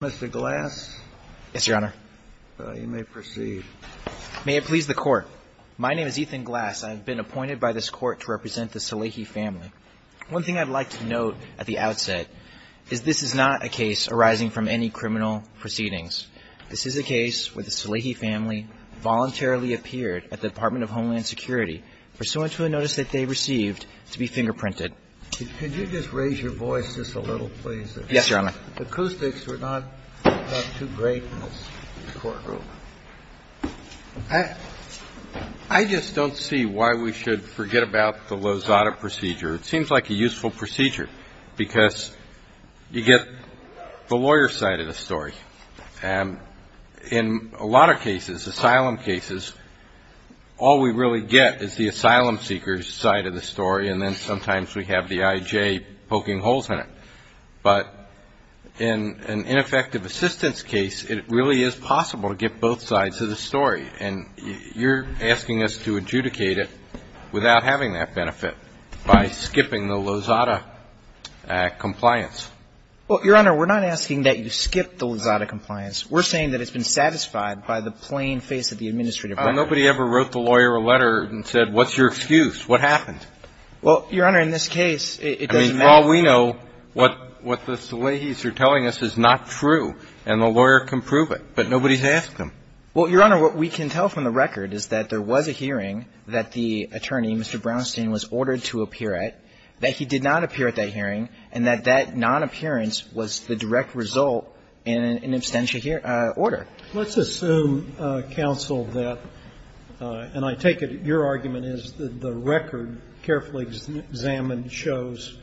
Mr. Glass. Yes, Your Honor. You may proceed. May it please the Court. My name is Ethan Glass. I have been appointed by this Court to represent the Salehi family. One thing I'd like to note at the outset is this is not a case arising from any criminal proceedings. This is a case where the Salehi family voluntarily appeared at the Department of Homeland Security pursuant to a notice that they received to be fingerprinted. Could you just raise your voice just a little, please? Yes, Your Honor. Acoustics are not too great in this courtroom. I just don't see why we should forget about the Lozada procedure. It seems like a useful procedure because you get the lawyer's side of the story. In a lot of cases, asylum cases, all we really get is the asylum seeker's side of the story, and then sometimes we have the I.J. poking holes in it. But in an ineffective assistance case, it really is possible to get both sides of the story, and you're asking us to adjudicate it without having that benefit by skipping the Lozada compliance. Well, Your Honor, we're not asking that you skip the Lozada compliance. We're saying that it's been satisfied by the plain face of the administrative record. Nobody ever wrote the lawyer a letter and said, what's your excuse? What happened? Well, Your Honor, in this case, it doesn't matter. I mean, for all we know, what the Salehis are telling us is not true, and the lawyer can prove it, but nobody's asked them. Well, Your Honor, what we can tell from the record is that there was a hearing that the attorney, Mr. Brownstein, was ordered to appear at, that he did not appear at that hearing, and that that non-appearance was the direct result in an abstention order. Let's assume, counsel, that, and I take it your argument is that the record carefully examined shows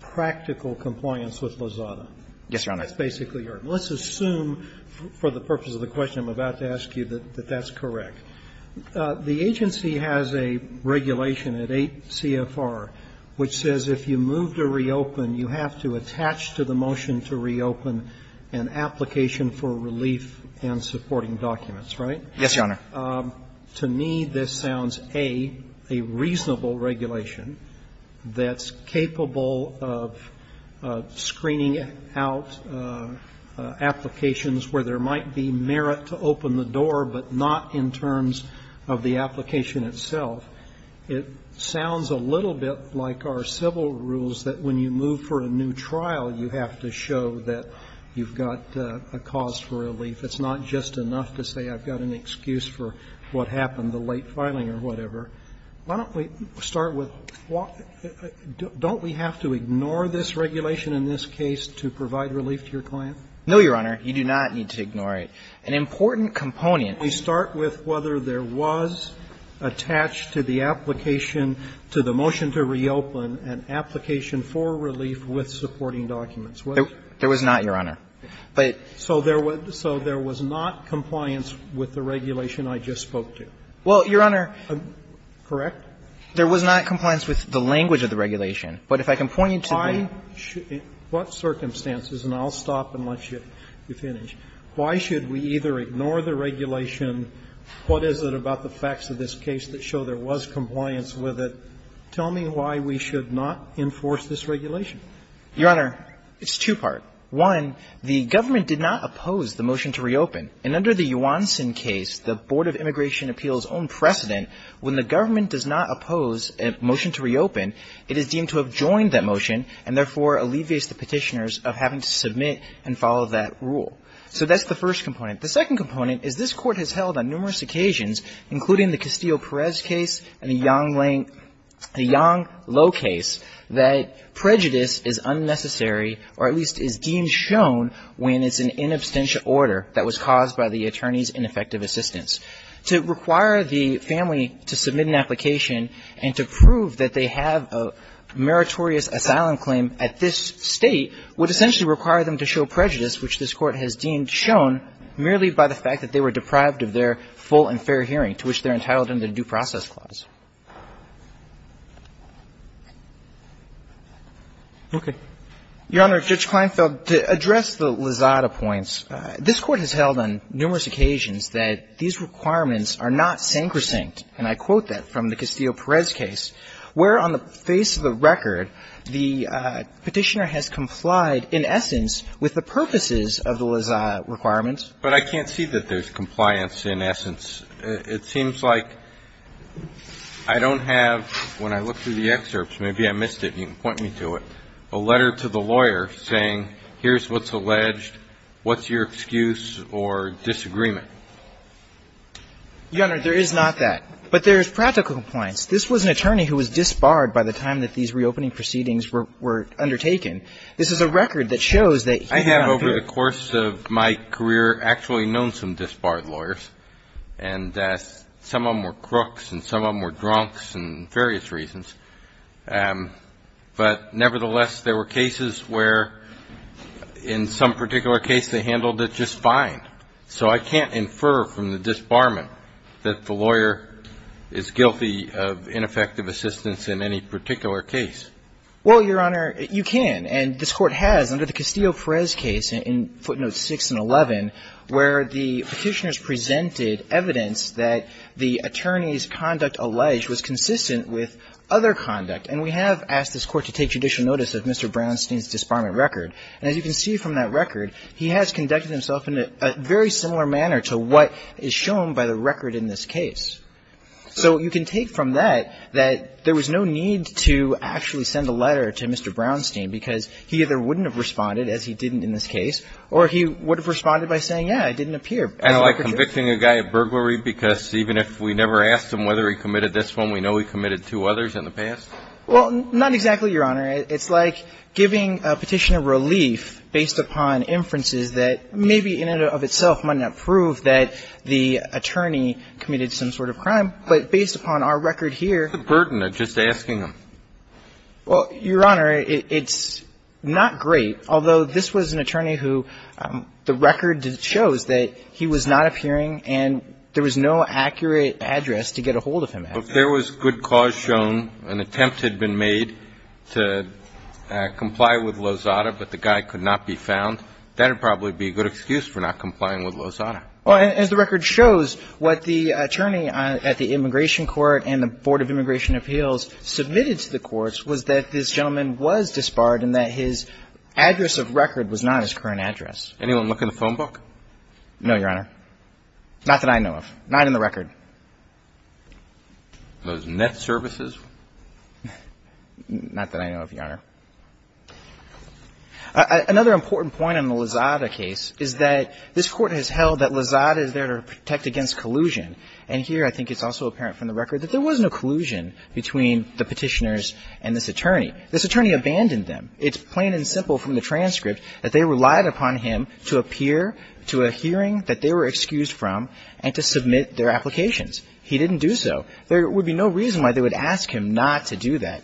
practical compliance with Lozada. Yes, Your Honor. That's basically your argument. Well, let's assume, for the purpose of the question I'm about to ask you, that that's correct. The agency has a regulation at 8 CFR which says if you move to reopen, you have to attach to the motion to reopen an application for relief and supporting documents, right? Yes, Your Honor. To me, this sounds, A, a reasonable regulation that's capable of screening out an application where there might be merit to open the door, but not in terms of the application itself. It sounds a little bit like our civil rules that when you move for a new trial, you have to show that you've got a cause for relief. It's not just enough to say I've got an excuse for what happened, the late filing or whatever. Why don't we start with, don't we have to ignore this regulation in this case to provide relief to your client? No, Your Honor. You do not need to ignore it. An important component. We start with whether there was attached to the application to the motion to reopen an application for relief with supporting documents. There was not, Your Honor. But. So there was not compliance with the regulation I just spoke to. Well, Your Honor. Correct? There was not compliance with the language of the regulation. But if I can point you to the. In what circumstances, and I'll stop and let you finish, why should we either ignore the regulation? What is it about the facts of this case that show there was compliance with it? Tell me why we should not enforce this regulation. Your Honor, it's two-part. One, the government did not oppose the motion to reopen. And under the Yuansen case, the Board of Immigration Appeals' own precedent, when the government does not oppose a motion to reopen, it is deemed to have joined that motion and, therefore, alleviates the petitioners of having to submit and follow that rule. So that's the first component. The second component is this Court has held on numerous occasions, including the Castillo-Perez case and the Yang-Lo case, that prejudice is unnecessary or at least is deemed shown when it's an inabstential order that was caused by the attorney's ineffective assistance. To require the family to submit an application and to prove that they have a meritorious asylum claim at this State would essentially require them to show prejudice, which this Court has deemed shown merely by the fact that they were deprived of their full and fair hearing, to which they're entitled under the Due Process Clause. Okay. Your Honor, Judge Kleinfeld, to address the Lizada points, this Court has held on numerous occasions that these requirements are not sancrosanct, and I quote that from the Castillo-Perez case, where on the face of the record, the petitioner has complied in essence with the purposes of the Lizada requirements. But I can't see that there's compliance in essence. It seems like I don't have, when I look through the excerpts, maybe I missed it and you can point me to it, a letter to the lawyer saying here's what's alleged, what's your excuse or disagreement. Your Honor, there is not that. But there is practical compliance. This was an attorney who was disbarred by the time that these reopening proceedings were undertaken. This is a record that shows that he found fair. I have over the course of my career actually known some disbarred lawyers, and some of them were crooks and some of them were drunks and various reasons. But nevertheless, there were cases where in some particular case they handled it just fine. So I can't infer from the disbarment that the lawyer is guilty of ineffective assistance in any particular case. Well, Your Honor, you can. And this Court has, under the Castillo-Perez case in footnotes 6 and 11, where the disbarment record, as you can see from that record, he has conducted himself in a very similar manner to what is shown by the record in this case. So you can take from that that there was no need to actually send a letter to Mr. Brownstein because he either wouldn't have responded, as he didn't in this case, or he would have responded by saying, yeah, it didn't appear. And like convicting a guy at burglary because even if we never asked him whether he committed this one, we know he committed two others in the past? Well, not exactly, Your Honor. It's like giving a petition of relief based upon inferences that maybe in and of itself might not prove that the attorney committed some sort of crime. But based upon our record here ---- What's the burden of just asking him? Well, Your Honor, it's not great. Although this was an attorney who the record shows that he was not appearing and there was no accurate address to get a hold of him at. So if there was good cause shown, an attempt had been made to comply with Lozada but the guy could not be found, that would probably be a good excuse for not complying with Lozada. Well, as the record shows, what the attorney at the Immigration Court and the Board of Immigration Appeals submitted to the courts was that this gentleman was disbarred and that his address of record was not his current address. Anyone look in the phone book? No, Your Honor. Not that I know of. Not in the record. Those net services? Not that I know of, Your Honor. Another important point on the Lozada case is that this Court has held that Lozada is there to protect against collusion. And here I think it's also apparent from the record that there wasn't a collusion between the petitioners and this attorney. This attorney abandoned them. It's plain and simple from the transcript that they relied upon him to appear to a hearing that they were excused from and to submit their applications. He didn't do so. There would be no reason why they would ask him not to do that.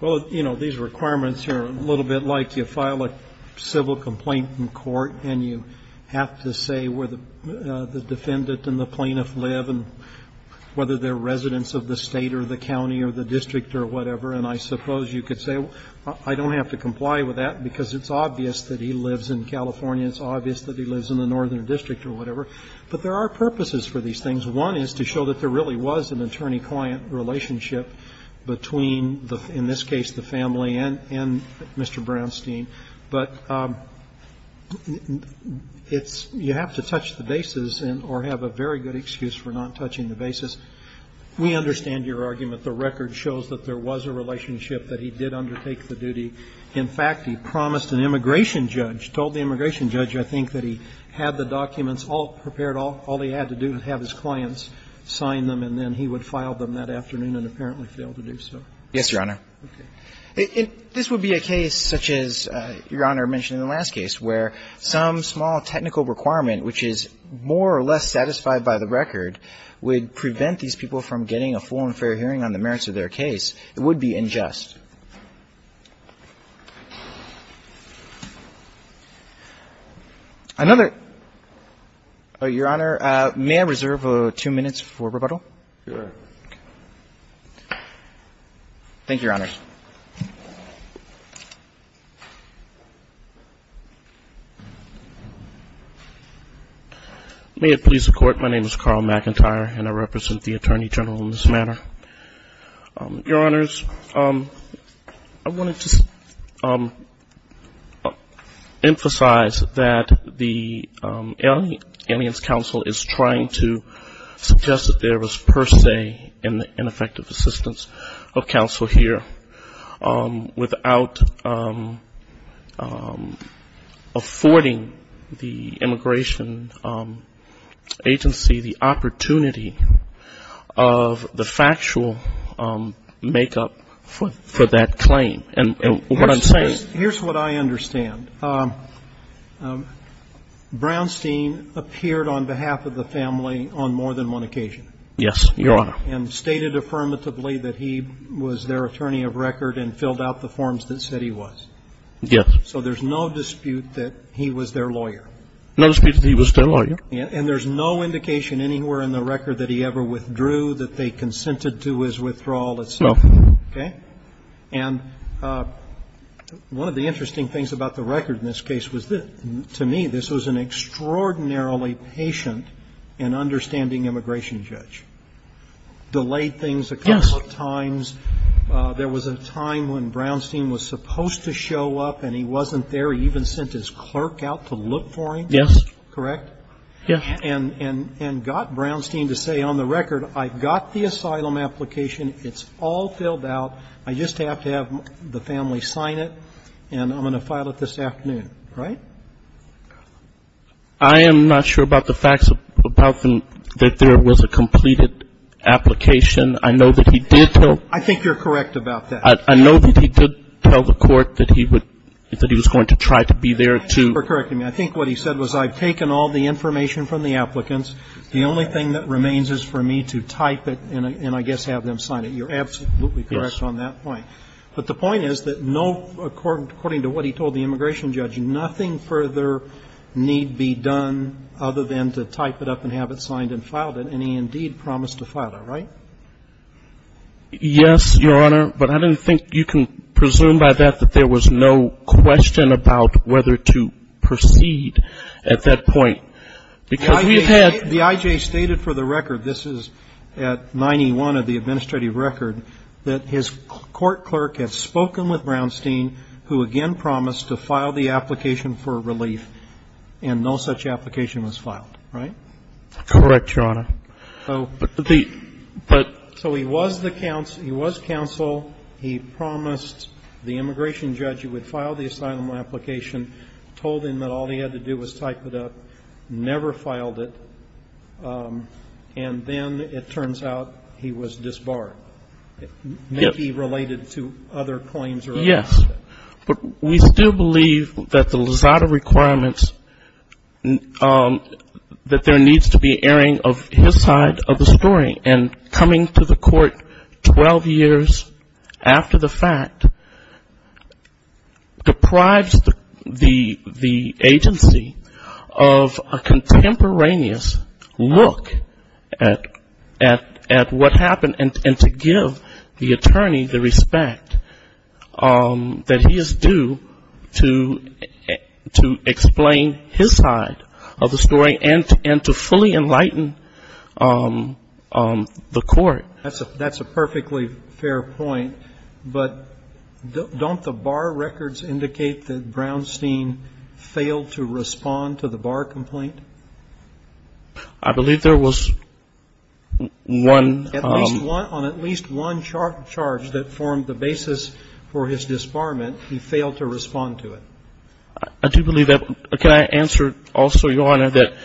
Well, you know, these requirements here are a little bit like you file a civil complaint in court and you have to say where the defendant and the plaintiff live and whether they're residents of the State or the county or the district or whatever, and I suppose you could say I don't have to comply with that because it's obvious that he lives in California, it's obvious that he lives in the northern district or whatever. But there are purposes for these things. One is to show that there really was an attorney-client relationship between, in this case, the family and Mr. Brownstein. But it's you have to touch the bases or have a very good excuse for not touching the bases. We understand your argument. The record shows that there was a relationship, that he did undertake the duty. In fact, he promised an immigration judge, told the immigration judge, I think, that he had the documents all prepared, all he had to do was have his clients sign them and then he would file them that afternoon and apparently failed to do so. Yes, Your Honor. Okay. This would be a case such as Your Honor mentioned in the last case where some small technical requirement, which is more or less satisfied by the record, would prevent these people from getting a full and fair hearing on the merits of their case. It would be unjust. Another, Your Honor, may I reserve two minutes for rebuttal? Sure. Thank you, Your Honor. May it please the Court. My name is Carl McIntyre and I represent the Attorney General in this manner. Your Honors, I wanted to emphasize that the Aliens Council is trying to suggest that there was per se an ineffective assistance of counsel here without affording the immigration agency the opportunity of the actual make-up for that claim. And what I'm saying is Here's what I understand. Brownstein appeared on behalf of the family on more than one occasion. Yes, Your Honor. And stated affirmatively that he was their attorney of record and filled out the forms that said he was. Yes. So there's no dispute that he was their lawyer. No dispute that he was their lawyer. And there's no indication anywhere in the record that he ever withdrew, that they consented to his withdrawal itself. No. Okay? And one of the interesting things about the record in this case was that, to me, this was an extraordinarily patient and understanding immigration judge. Delayed things a couple of times. Yes. There was a time when Brownstein was supposed to show up and he wasn't there. He even sent his clerk out to look for him. Yes. Correct? Yes. And got Brownstein to say, on the record, I got the asylum application. It's all filled out. I just have to have the family sign it and I'm going to file it this afternoon. Right? I am not sure about the facts about that there was a completed application. I know that he did tell I think you're correct about that. I know that he did tell the court that he would, that he was going to try to be there to correct him. I think what he said was, I've taken all the information from the applicants. The only thing that remains is for me to type it and I guess have them sign it. You're absolutely correct on that point. But the point is that no, according to what he told the immigration judge, nothing further need be done other than to type it up and have it signed and filed it. And he indeed promised to file it. Right? Yes, Your Honor. But I don't think you can presume by that that there was no question about whether to proceed at that point. Because we've had The I.J. stated for the record, this is at 91 of the administrative record, that his court clerk had spoken with Brownstein, who again promised to file the application for relief. And no such application was filed. Right? Correct, Your Honor. So he was the counsel. He was counsel. He promised the immigration judge he would file the asylum application, told him that all he had to do was type it up, never filed it. And then it turns out he was disbarred. Yes. Maybe related to other claims. Yes. But we still believe that the Lozada requirements, that there needs to be airing of his side of the story. And coming to the court 12 years after the fact deprives the agency of a contemporaneous look at what happened, and to give the attorney the respect that he is due to explain his side of the story and to fully enlighten the court. That's a perfectly fair point. But don't the bar records indicate that Brownstein failed to respond to the bar complaint? I believe there was one. On at least one charge that formed the basis for his disbarment, he failed to respond to it. I do believe that. Can I answer also, Your Honor, that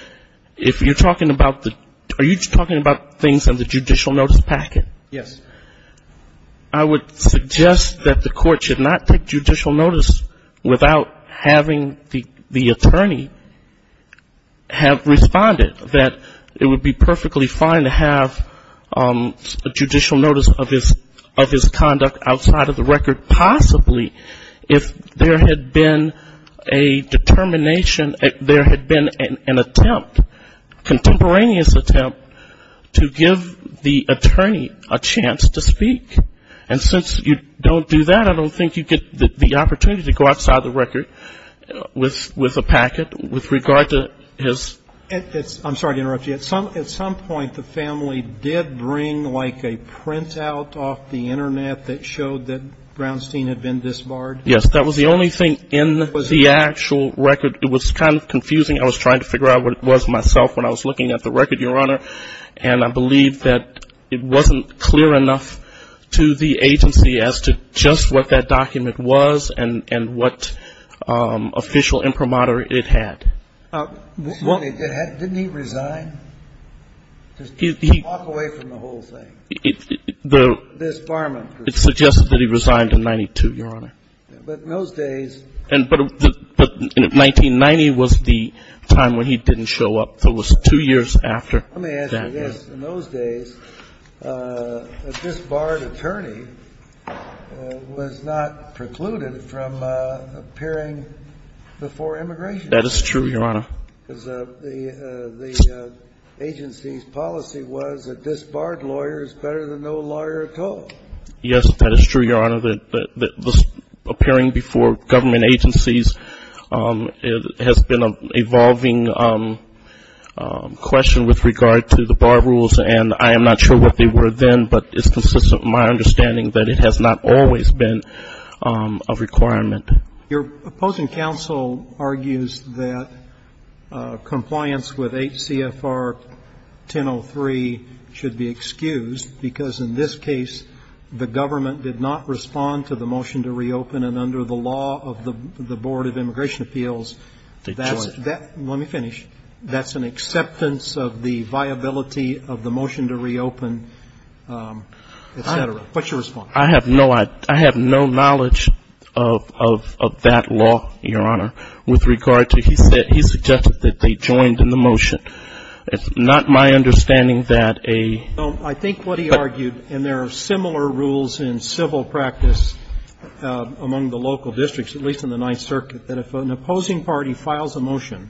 if you're talking about the — are you talking about things in the judicial notice packet? Yes. I would suggest that the court should not take judicial notice without having the attorney have responded, that it would be perfectly fine to have a judicial notice of his conduct outside of the record, possibly if there had been a determination, there had been an attempt, contemporaneous attempt, to give the attorney a chance to speak. And since you don't do that, I don't think you get the opportunity to go outside the record with a packet with regard to his — I'm sorry to interrupt you. At some point the family did bring like a printout off the Internet that showed that Brownstein had been disbarred? Yes. That was the only thing in the actual record. It was kind of confusing. I was trying to figure out what it was myself when I was looking at the record, Your Honor. And I believe that it wasn't clear enough to the agency as to just what that document was and what official imprimatur it had. Didn't he resign? Walk away from the whole thing. The — Disbarment. It suggested that he resigned in 92, Your Honor. But in those days — But 1990 was the time when he didn't show up. It was two years after that. Let me ask you this. In those days, a disbarred attorney was not precluded from appearing before immigration. That is true, Your Honor. Because the agency's policy was that disbarred lawyers better than no lawyer at all. Yes, that is true, Your Honor. The appearing before government agencies has been an evolving question with regard to the bar rules. And I am not sure what they were then, but it's consistent with my understanding that it has not always been a requirement. Your opposing counsel argues that compliance with H.C.F.R. 1003 should be excused because in this case, the government did not respond to the motion to reopen, and under the law of the Board of Immigration Appeals, that's — They joined. Let me finish. That's an acceptance of the viability of the motion to reopen, et cetera. What's your response? I have no — I have no knowledge of that law, Your Honor, with regard to — he said — he suggested that they joined in the motion. It's not my understanding that a — I think what he argued, and there are similar rules in civil practice among the local districts, at least in the Ninth Circuit, that if an opposing party files a motion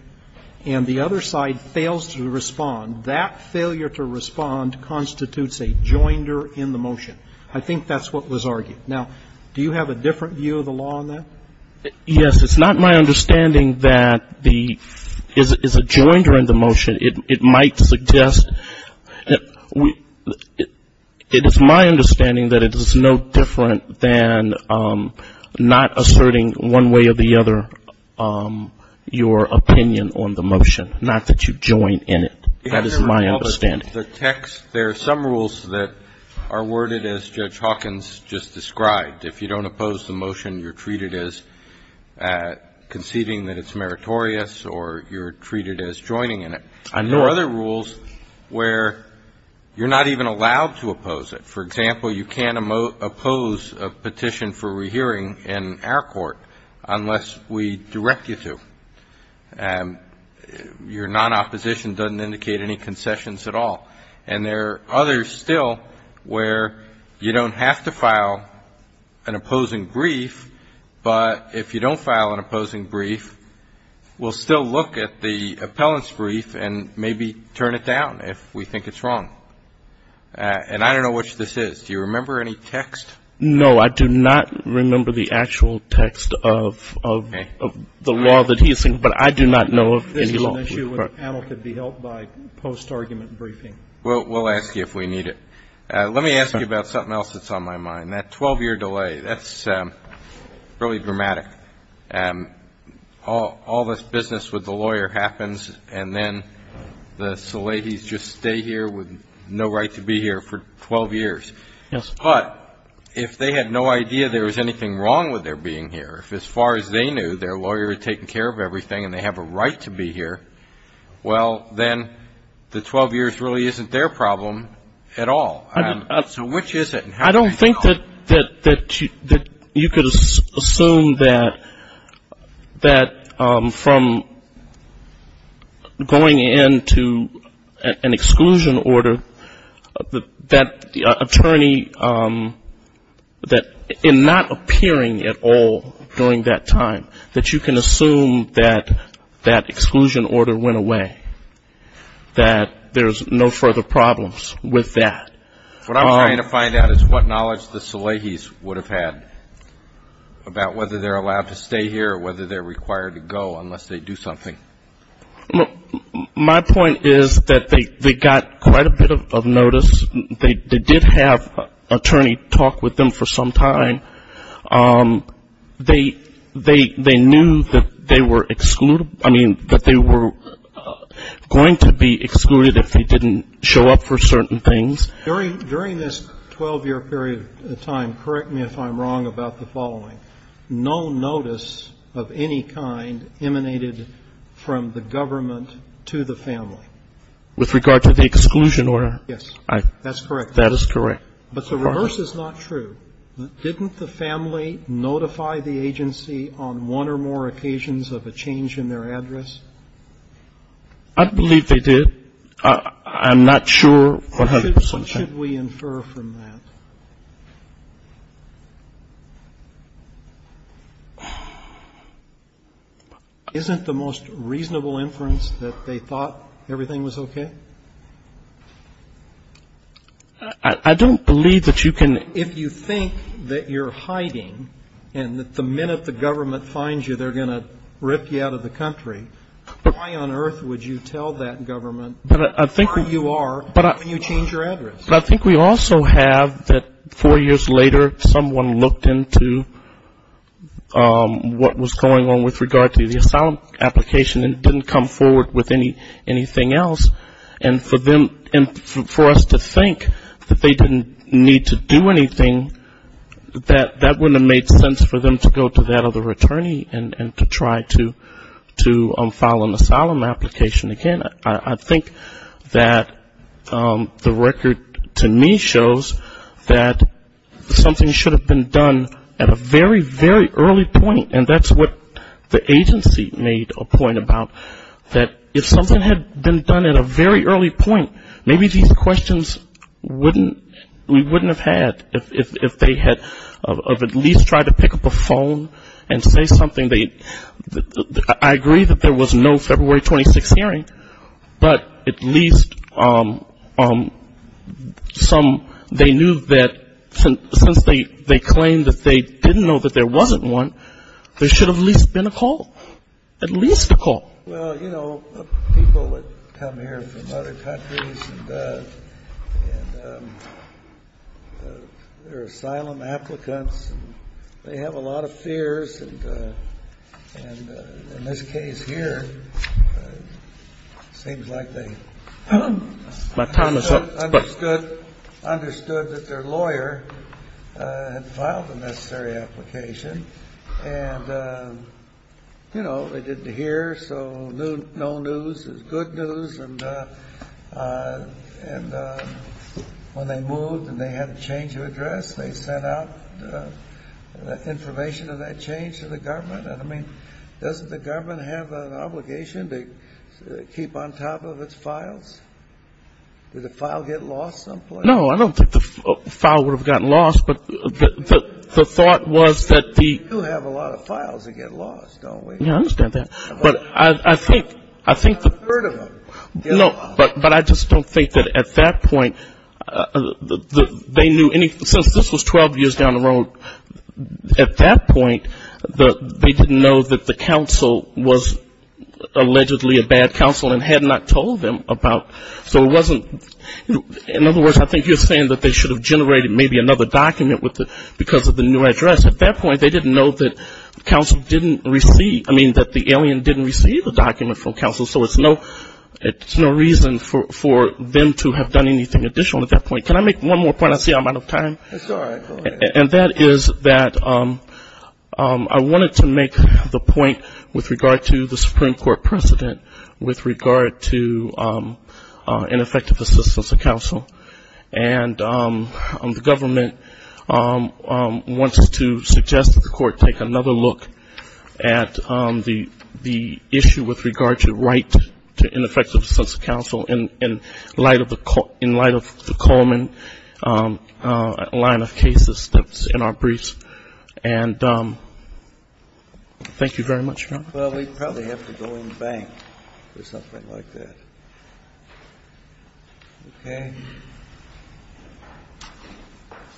and the other side fails to respond, that failure to respond constitutes a joinder in the motion. I think that's what was argued. Now, do you have a different view of the law on that? Yes. It might suggest — it is my understanding that it is no different than not asserting one way or the other your opinion on the motion, not that you join in it. That is my understanding. The text — there are some rules that are worded as Judge Hawkins just described. If you don't oppose the motion, you're treated as conceding that it's meritorious, or you're treated as joining in it. I know. There are other rules where you're not even allowed to oppose it. For example, you can't oppose a petition for rehearing in our court unless we direct you to. Your non-opposition doesn't indicate any concessions at all. And there are others still where you don't have to file an opposing brief, but if you don't file an opposing brief, we'll still look at the appellant's brief and maybe turn it down if we think it's wrong. And I don't know which this is. Do you remember any text? No. I do not remember the actual text of the law that he is — but I do not know of any law. This is an issue where the panel could be helped by post-argument briefing. We'll ask you if we need it. Let me ask you about something else that's on my mind, that 12-year delay. That's really dramatic. All this business with the lawyer happens, and then the Salahis just stay here with no right to be here for 12 years. Yes. But if they had no idea there was anything wrong with their being here, if as far as they knew their lawyer had taken care of everything and they have a right to be here, well, then the 12 years really isn't their problem at all. So which is it? I don't think that you could assume that from going into an exclusion order, that the attorney in not appearing at all during that time, that you can assume that that exclusion order went away, that there's no further problems with that. What I'm trying to find out is what knowledge the Salahis would have had about whether they're allowed to stay here or whether they're required to go unless they do something. My point is that they got quite a bit of notice. They did have an attorney talk with them for some time. They knew that they were going to be excluded if they didn't show up for certain things. During this 12-year period of time, correct me if I'm wrong about the following. No notice of any kind emanated from the government to the family. With regard to the exclusion order? Yes. That's correct. That is correct. But the reverse is not true. Didn't the family notify the agency on one or more occasions of a change in their address? I believe they did. I'm not sure. What should we infer from that? Isn't the most reasonable inference that they thought everything was okay? I don't believe that you can. If you think that you're hiding and that the minute the government finds you, they're going to rip you out of the country, why on earth would you tell that government where you are when you change your address? But I think we also have that four years later, someone looked into what was going on with regard to the asylum application and didn't come forward with anything else. And for us to think that they didn't need to do anything, that wouldn't have made sense for them to go to that other attorney and to try to file an asylum application again. I think that the record to me shows that something should have been done at a very, very early point, and that's what the agency made a point about, that if something had been done at a very early point, maybe these questions we wouldn't have had if they had at least tried to pick up a phone and say something. I agree that there was no February 26 hearing, but at least some, they knew that since they claimed that they didn't know that there wasn't one, there should have at least been a call, at least a call. Well, you know, people would come here from other countries and they're asylum applicants and they have a lot of fears, and in this case here, it seems like they understood. They understood that their lawyer had filed the necessary application and, you know, they didn't hear, so no news is good news, and when they moved and they had a change of address, they sent out information of that change to the government. I mean, doesn't the government have an obligation to keep on top of its files? Did the file get lost someplace? No, I don't think the file would have gotten lost, but the thought was that the ---- We do have a lot of files that get lost, don't we? Yeah, I understand that, but I think the ---- I've heard of them. No, but I just don't think that at that point they knew anything. Since this was 12 years down the road, at that point, they didn't know that the counsel was allegedly a bad counsel and had not told them about ---- So it wasn't ---- In other words, I think you're saying that they should have generated maybe another document because of the new address. At that point, they didn't know that counsel didn't receive ---- I mean, that the alien didn't receive a document from counsel, so it's no reason for them to have done anything additional at that point. Can I make one more point? I see I'm out of time. That's all right. And that is that I wanted to make the point with regard to the Supreme Court precedent with regard to ineffective assistance of counsel, and the government wants to suggest that the court take another look at the issue with regard to right to assistance in our briefs. And thank you very much, Your Honor. Well, we probably have to go in the bank or something like that. Okay.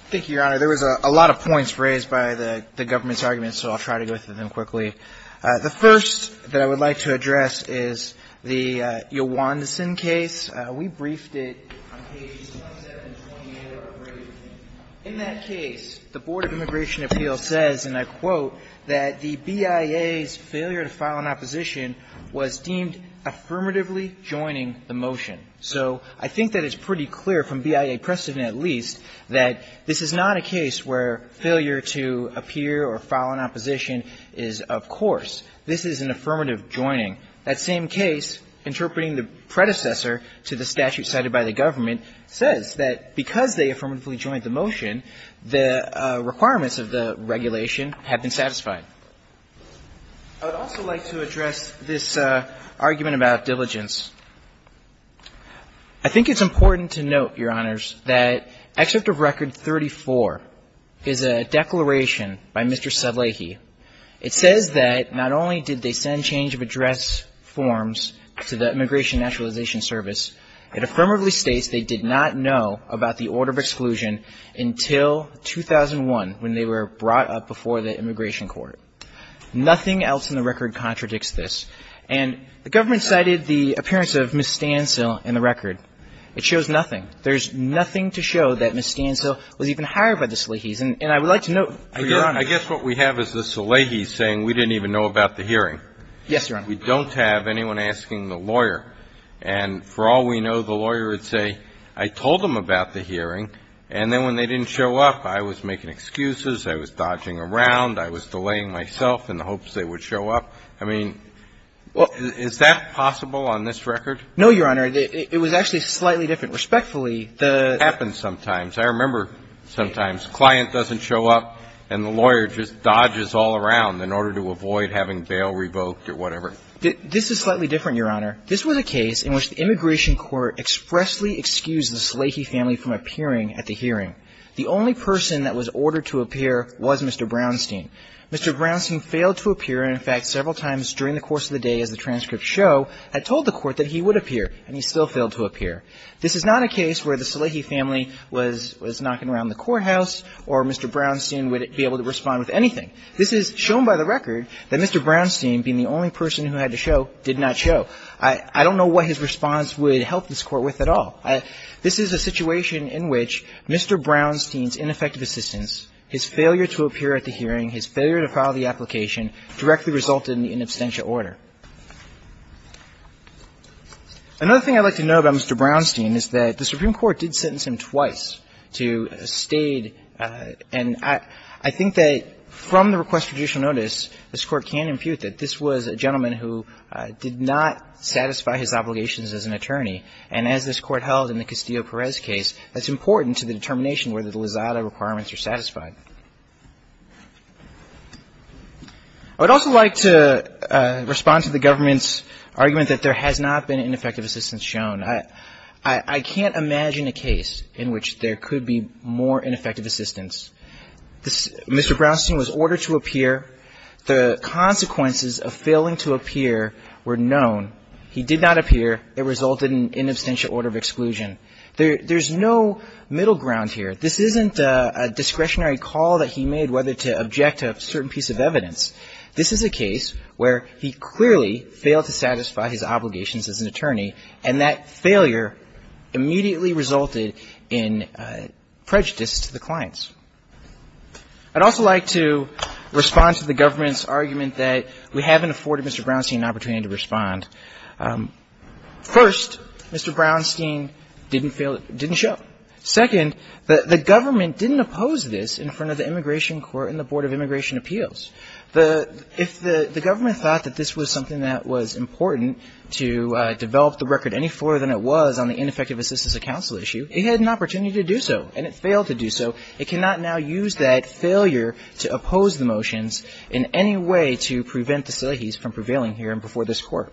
Thank you, Your Honor. There was a lot of points raised by the government's arguments, so I'll try to go through them quickly. The first that I would like to address is the Yowandison case. We briefed it on pages 27 and 28 of our brief. In that case, the Board of Immigration Appeals says, and I quote, that the BIA's failure to file an opposition was deemed affirmatively joining the motion. So I think that it's pretty clear from BIA precedent at least that this is not a case where failure to appear or file an opposition is of course. This is an affirmative joining. That same case, interpreting the predecessor to the statute cited by the government, says that because they affirmatively joined the motion, the requirements of the regulation have been satisfied. I would also like to address this argument about diligence. I think it's important to note, Your Honors, that Excerpt of Record 34 is a declaration by Mr. Sedlecki. It says that not only did they send change of address forms to the Immigration Naturalization Service, it affirmatively states they did not know about the order of exclusion until 2001 when they were brought up before the immigration court. Nothing else in the record contradicts this. And the government cited the appearance of Ms. Stancil in the record. It shows nothing. There's nothing to show that Ms. Stancil was even hired by the Salehis. And I would like to note, Your Honors. I guess what we have is the Salehis saying we didn't even know about the hearing. Yes, Your Honor. We don't have anyone asking the lawyer. And for all we know, the lawyer would say, I told them about the hearing, and then when they didn't show up, I was making excuses, I was dodging around, I was delaying myself in the hopes they would show up. I mean, is that possible on this record? No, Your Honor. It was actually slightly different. Respectfully, the ---- It happens sometimes. I remember sometimes a client doesn't show up and the lawyer just dodges all around in order to avoid having bail revoked or whatever. This is slightly different, Your Honor. This was a case in which the immigration court expressly excused the Salehi family from appearing at the hearing. The only person that was ordered to appear was Mr. Brownstein. Mr. Brownstein failed to appear, and in fact, several times during the course of the day, as the transcripts show, had told the court that he would appear, and he still failed to appear. This is not a case where the Salehi family was knocking around the courthouse or Mr. Brownstein would be able to respond with anything. This is shown by the record that Mr. Brownstein, being the only person who had to show, did not show. I don't know what his response would help this Court with at all. This is a situation in which Mr. Brownstein's ineffective assistance, his failure to appear at the hearing, his failure to file the application directly resulted in the inabstentia order. Another thing I'd like to note about Mr. Brownstein is that the Supreme Court did not issue a judicial notice. This Court can impute that this was a gentleman who did not satisfy his obligations as an attorney, and as this Court held in the Castillo-Perez case, that's important to the determination whether the Lizada requirements are satisfied. I would also like to respond to the government's argument that there has not been ineffective assistance shown. I can't imagine a case in which there could be more ineffective assistance. Mr. Brownstein was ordered to appear. The consequences of failing to appear were known. He did not appear. It resulted in inabstentia order of exclusion. There's no middle ground here. This isn't a discretionary call that he made whether to object to a certain piece of evidence. And that failure immediately resulted in prejudice to the clients. I'd also like to respond to the government's argument that we haven't afforded Mr. Brownstein an opportunity to respond. First, Mr. Brownstein didn't show. Second, the government didn't oppose this in front of the Immigration Court and the Board of Immigration Appeals. If the government thought that this was something that was important to develop the record any further than it was on the ineffective assistance of counsel issue, it had an opportunity to do so. And it failed to do so. It cannot now use that failure to oppose the motions in any way to prevent the CILAHIs from prevailing here and before this Court.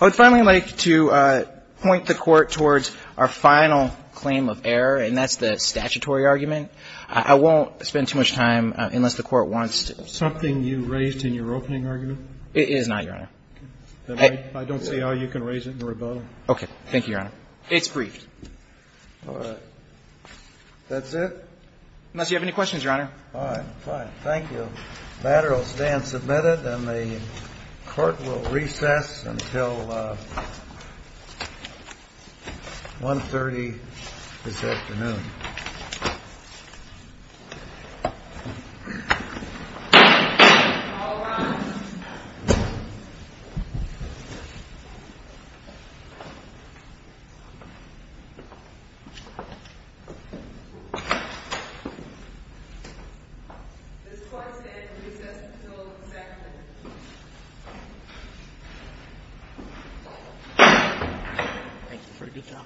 I would finally like to point the Court towards our final claim of error, and that's the statutory argument. I won't spend too much time unless the Court wants to. Something you raised in your opening argument? It is not, Your Honor. Then I don't see how you can raise it in rebuttal. Okay. Thank you, Your Honor. It's briefed. That's it? Unless you have any questions, Your Honor. I have no questions. Fine. Fine. Thank you. The matter will stand submitted, and the Court will recess until 1.30 this afternoon. All rise. This court stands to recess until executive. Thank you for a good job. Thank you. Thank you.